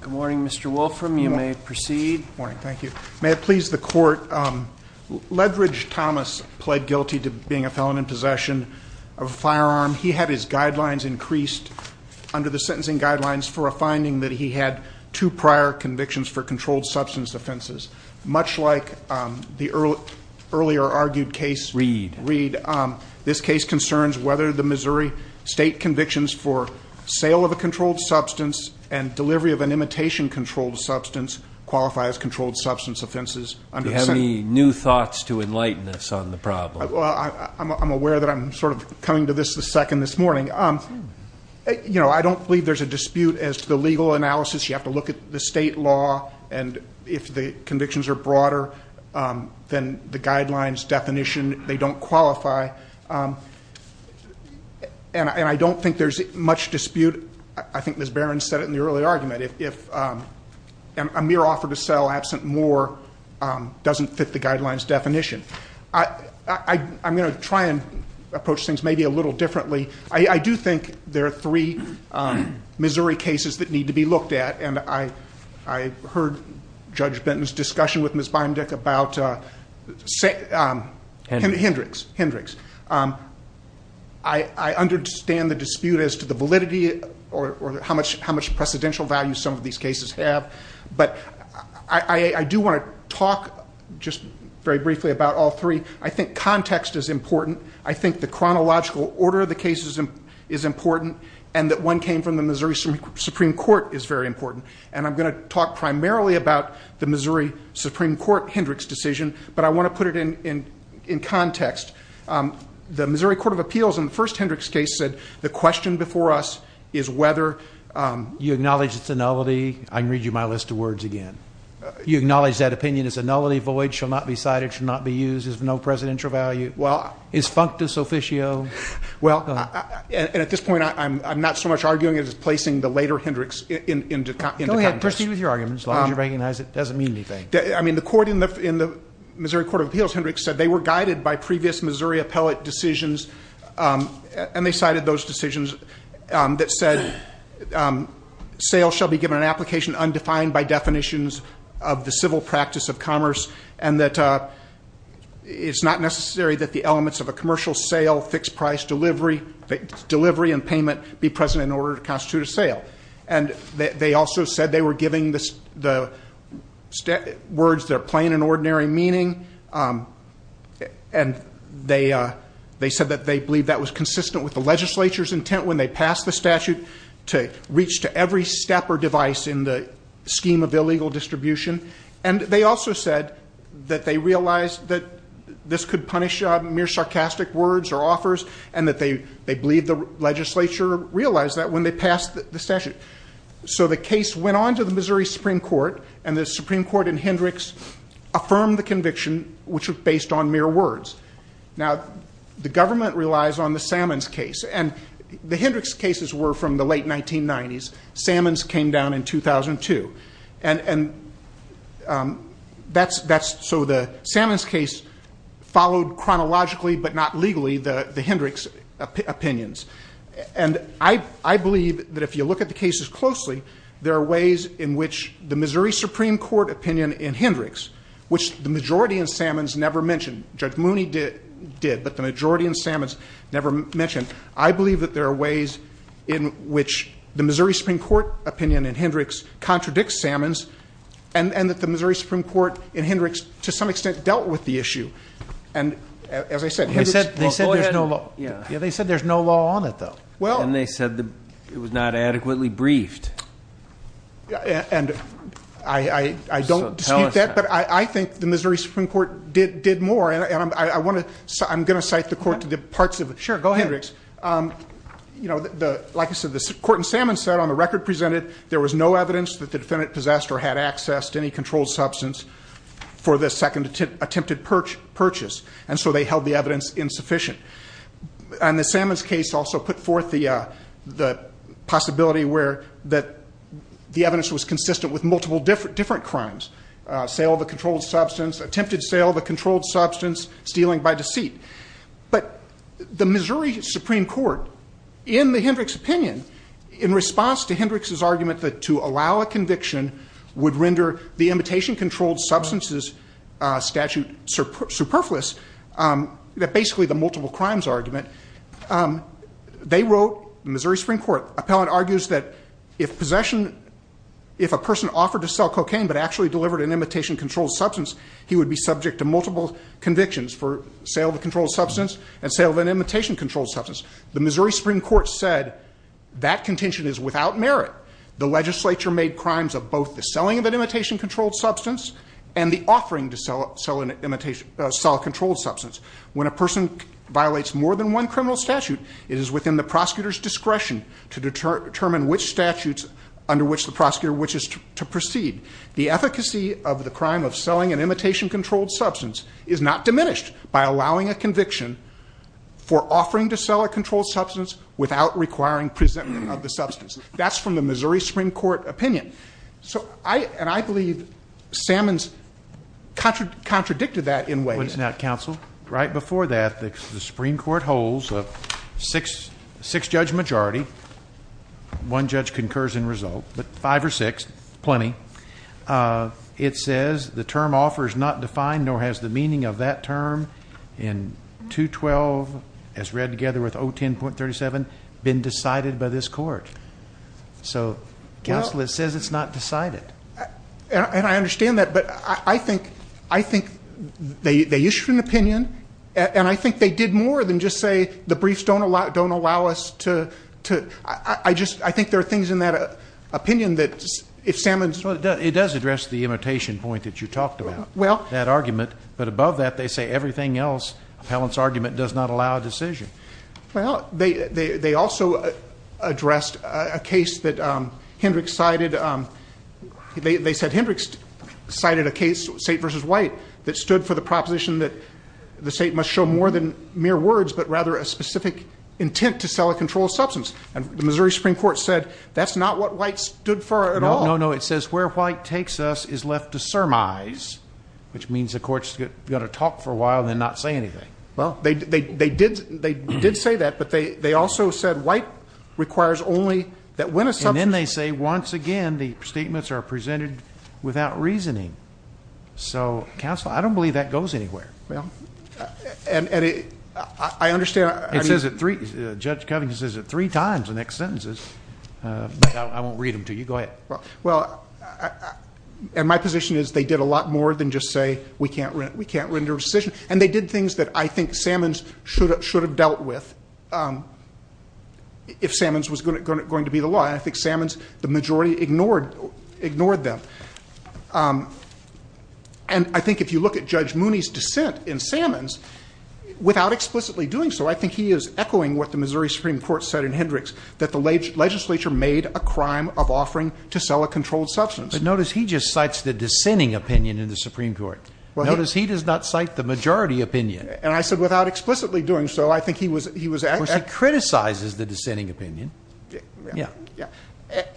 Good morning, Mr. Wolfram, you may proceed. Morning, thank you. May it please the court, Ledridge Thomas pled guilty to being a felon in possession of a firearm. He had his guidelines increased under the sentencing guidelines for a finding that he had two prior convictions for controlled substance offenses. Much like the earlier argued case- Reed. Reed. This case concerns whether the Missouri state convictions for sale of a controlled substance and delivery of an imitation controlled substance qualify as controlled substance offenses under the Senate- Do you have any new thoughts to enlighten us on the problem? Well, I'm aware that I'm sort of coming to this the second this morning. You know, I don't believe there's a dispute as to the legal analysis. You have to look at the state law, and if the convictions are broader, then the guidelines definition, they don't qualify. And I don't think there's much dispute. I think Ms. Barron said it in the earlier argument, if a mere offer to sell absent more doesn't fit the guidelines definition. I'm going to try and approach things maybe a little differently. I do think there are three Missouri cases that need to be looked at. And I heard Judge Benton's discussion with Ms. Bindick about- Hendricks, Hendricks. I understand the dispute as to the validity or how much precedential value some of these cases have. But I do want to talk just very briefly about all three. I think context is important. I think the chronological order of the cases is important, and that one came from the Missouri Supreme Court is very important. And I'm going to talk primarily about the Missouri Supreme Court Hendricks decision, but I want to put it in context. The Missouri Court of Appeals in the first Hendricks case said the question before us is whether- You acknowledge it's a nullity, I can read you my list of words again. You acknowledge that opinion is a nullity, void, shall not be cited, shall not be used, is of no presidential value. Is functus officio. Well, and at this point, I'm not so much arguing as placing the later Hendricks into context. Go ahead, proceed with your argument as long as you recognize it doesn't mean anything. I mean, the court in the Missouri Court of Appeals, Hendricks, said they were guided by previous Missouri appellate decisions. And they cited those decisions that said, sales shall be given an application undefined by definitions of the civil practice of commerce. And that it's not necessary that the elements of a commercial sale, fixed price delivery, delivery and payment be present in order to constitute a sale. And they also said they were giving the words their plain and ordinary meaning. And they said that they believe that was consistent with the legislature's intent when they passed the statute to reach to every step or device in the scheme of illegal distribution. And they also said that they realized that this could punish mere sarcastic words or offers. And that they believe the legislature realized that when they passed the statute. So the case went on to the Missouri Supreme Court. And the Supreme Court in Hendricks affirmed the conviction, which was based on mere words. Now, the government relies on the Salmons case. And the Hendricks cases were from the late 1990s. Salmons came down in 2002. And so the Salmons case followed chronologically, but not legally, the Hendricks opinions. And I believe that if you look at the cases closely, there are ways in which the Missouri Supreme Court opinion in Hendricks, which the majority in Salmons never mentioned, Judge Mooney did, but the majority in Salmons never mentioned. I believe that there are ways in which the Missouri Supreme Court opinion in Hendricks contradicts Salmons. And that the Missouri Supreme Court in Hendricks, to some extent, dealt with the issue. And as I said, Hendricks- They said there's no law on it, though. And they said it was not adequately briefed. And I don't dispute that, but I think the Missouri Supreme Court did more. Sure, go ahead. Hendricks, like I said, the court in Salmons said on the record presented, there was no evidence that the defendant possessed or had access to any controlled substance for the second attempted purchase, and so they held the evidence insufficient. And the Salmons case also put forth the possibility where that the evidence was consistent with multiple different crimes. Sale of a controlled substance, attempted sale of a controlled substance, stealing by deceit. But the Missouri Supreme Court, in the Hendricks opinion, in response to Hendricks's argument that to allow a conviction would render the imitation controlled substances statute superfluous, that basically the multiple crimes argument. They wrote, the Missouri Supreme Court appellate argues that if possession, if a person offered to sell cocaine but actually delivered an imitation controlled substance, he would be subject to multiple convictions for sale of a controlled substance and sale of an imitation controlled substance. The Missouri Supreme Court said that contention is without merit. The legislature made crimes of both the selling of an imitation controlled substance and the offering to sell a controlled substance. When a person violates more than one criminal statute, it is within the prosecutor's discretion to determine which statutes under which the prosecutor wishes to proceed. The efficacy of the crime of selling an imitation controlled substance is not diminished by allowing a conviction for offering to sell a controlled substance without requiring presentment of the substance. That's from the Missouri Supreme Court opinion. So I, and I believe, Salmons contradicted that in ways. What is that, counsel? Right before that, the Supreme Court holds a six judge majority. One judge concurs in result, but five or six, plenty. It says the term offer is not defined nor has the meaning of that term in 212 as read together with 010.37 been decided by this court. So counsel, it says it's not decided. And I understand that, but I think they issued an opinion, and I think they did more than just say the briefs don't allow us to, I just, I think there are things in that opinion that, if Salmons- Well, it does address the imitation point that you talked about. Well. That argument. But above that, they say everything else, Appellant's argument, does not allow a decision. Well, they also addressed a case that Hendricks cited. And they said Hendricks cited a case, State versus White, that stood for the proposition that the state must show more than mere words, but rather a specific intent to sell a controlled substance. And the Missouri Supreme Court said, that's not what White stood for at all. No, no, it says where White takes us is left to surmise, which means the court's going to talk for a while and then not say anything. Well, they did say that, but they also said White requires only that when a substance- And then they say, once again, the statements are presented without reasoning. So, counsel, I don't believe that goes anywhere. Well, and I understand- It says it three, Judge Covington says it three times in the next sentences, but I won't read them to you. Go ahead. Well, and my position is they did a lot more than just say we can't render a decision. And they did things that I think Salmons should have dealt with if Salmons was going to be the law. And I think Salmons, the majority ignored them. And I think if you look at Judge Mooney's dissent in Salmons, without explicitly doing so, I think he is echoing what the Missouri Supreme Court said in Hendricks, that the legislature made a crime of offering to sell a controlled substance. But notice he just cites the dissenting opinion in the Supreme Court. Notice he does not cite the majority opinion. And I said without explicitly doing so, I think he was- Well, she criticizes the dissenting opinion. Yeah.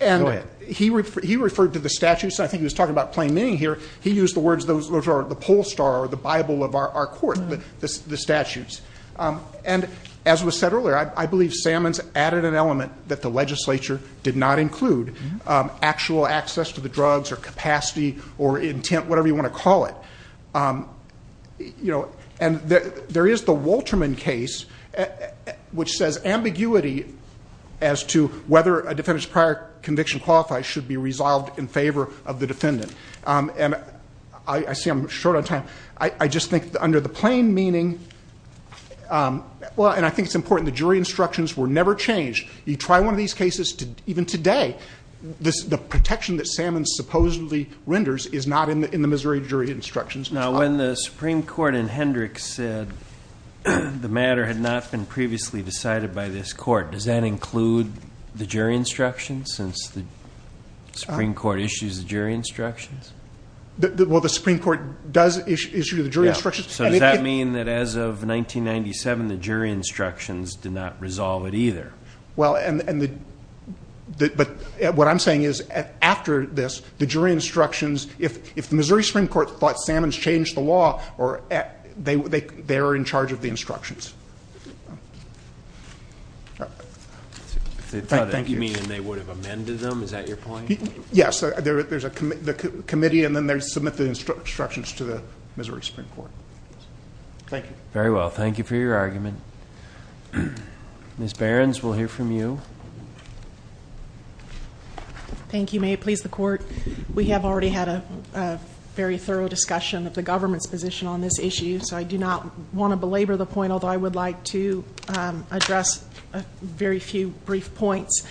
And he referred to the statutes, and I think he was talking about plain meaning here. He used the words, those are the poll star, or the Bible of our court, the statutes. And as was said earlier, I believe Salmons added an element that the legislature did not include. Actual access to the drugs, or capacity, or intent, whatever you want to call it. And there is the Wolterman case, which says ambiguity as to whether a defendant's prior conviction qualifies should be resolved in favor of the defendant. And I see I'm short on time. I just think under the plain meaning, well, and I think it's important the jury instructions were never changed. You try one of these cases, even today, the protection that Salmons supposedly renders is not in the Missouri jury instructions. Now, when the Supreme Court in Hendricks said the matter had not been previously decided by this court, does that include the jury instructions, since the Supreme Court issues the jury instructions? Well, the Supreme Court does issue the jury instructions. So does that mean that as of 1997, the jury instructions did not resolve it either? Well, and the, but what I'm saying is, after this, the jury instructions, if the Missouri Supreme Court thought Salmons changed the law, they are in charge of the instructions. Thank you. You mean they would have amended them, is that your point? Yes, there's a committee, and then they submit the instructions to the Missouri Supreme Court. Thank you. Very well, thank you for your argument. Ms. Behrens, we'll hear from you. Thank you, may it please the court. We have already had a very thorough discussion of the government's position on this issue, so I do not want to belabor the point, although I would like to address a very few brief points.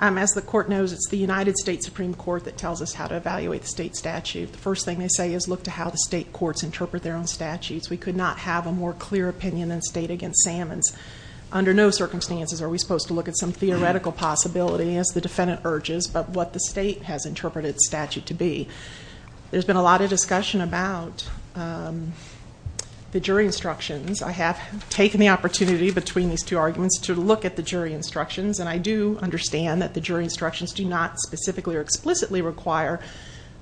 As the court knows, it's the United States Supreme Court that tells us how to evaluate the state statute. The first thing they say is look to how the state courts interpret their own statutes. We could not have a more clear opinion in the state against Salmons. Under no circumstances are we supposed to look at some theoretical possibility, as the defendant urges, but what the state has interpreted statute to be. There's been a lot of discussion about the jury instructions. I have taken the opportunity between these two arguments to look at the jury instructions, and I do understand that the jury instructions do not specifically or explicitly require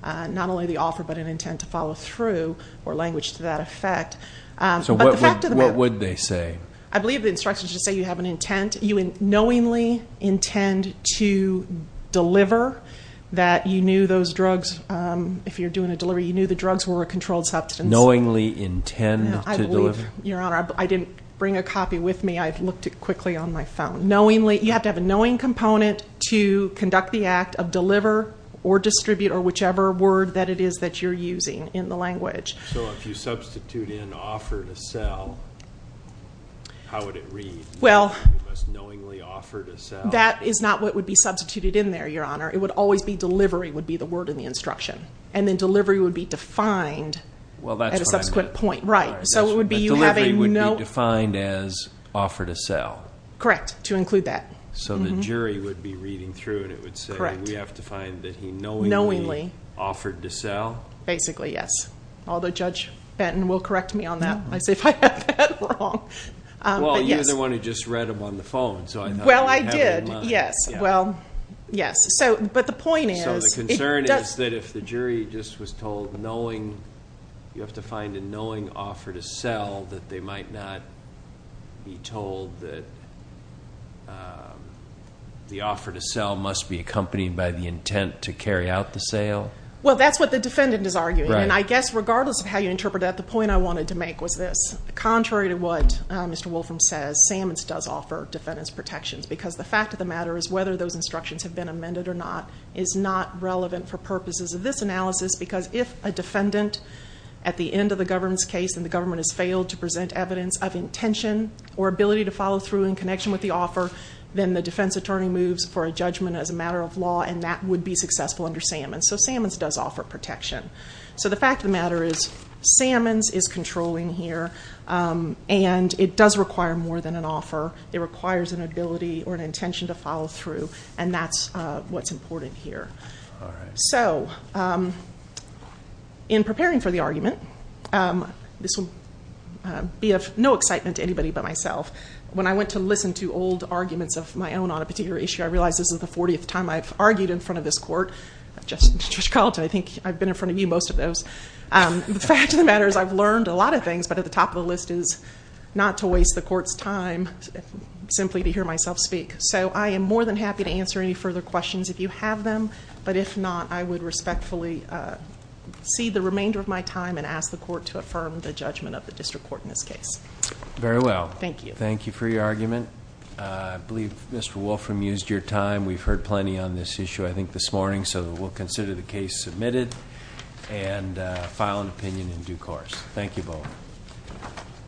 not only the offer, but an intent to follow through, or language to that effect. But the fact of the matter- What would they say? I believe the instructions just say you have an intent. You knowingly intend to deliver that you knew those drugs. If you're doing a delivery, you knew the drugs were a controlled substance. Knowingly intend to deliver? Your Honor, I didn't bring a copy with me. I've looked at it quickly on my phone. You have to have a knowing component to conduct the act of deliver or distribute or whichever word that it is that you're using in the language. So if you substitute in offer to sell, how would it read? Well- You must knowingly offer to sell. That is not what would be substituted in there, Your Honor. It would always be delivery would be the word in the instruction. And then delivery would be defined at a subsequent point. Right. So it would be you have a no- Delivery would be defined as offer to sell. Correct, to include that. So the jury would be reading through and it would say we have to find that he knowingly offered to sell? Basically, yes. Although Judge Benton will correct me on that. I say if I have that wrong. Well, you're the one who just read them on the phone. So I thought you had it in mind. Well, I did. Yes. Well, yes. So, but the point is- So the concern is that if the jury just was told knowing, you have to find a knowing offer to sell, that they might not be told that the offer to sell must be accompanied by the intent to carry out the sale? Well, that's what the defendant is arguing. And I guess regardless of how you interpret that, the point I wanted to make was this. Contrary to what Mr. Wolfram says, Sammons does offer defendant's protections. Because the fact of the matter is whether those instructions have been amended or not is not relevant for purposes of this analysis. Because if a defendant at the end of the government's case and the government has failed to present evidence of intention or ability to follow through in connection with the offer, then the defense attorney moves for a judgment as a matter of law. And that would be successful under Sammons. So Sammons does offer protection. So the fact of the matter is, Sammons is controlling here and it does require more than an offer. It requires an ability or an intention to follow through and that's what's important here. So, in preparing for the argument, this will be of no excitement to anybody but myself. When I went to listen to old arguments of my own on a particular issue, I realized this is the 40th time I've argued in front of this court. Just in Chicago, I think I've been in front of you most of those. The fact of the matter is I've learned a lot of things, but at the top of the list is not to waste the court's time simply to hear myself speak. So I am more than happy to answer any further questions if you have them. But if not, I would respectfully cede the remainder of my time and ask the court to affirm the judgment of the district court in this case. Very well. Thank you. Thank you for your argument. I believe Mr. Wolfram used your time. We've heard plenty on this issue, I think, this morning, so we'll consider the case submitted and file an opinion in due course. Thank you both.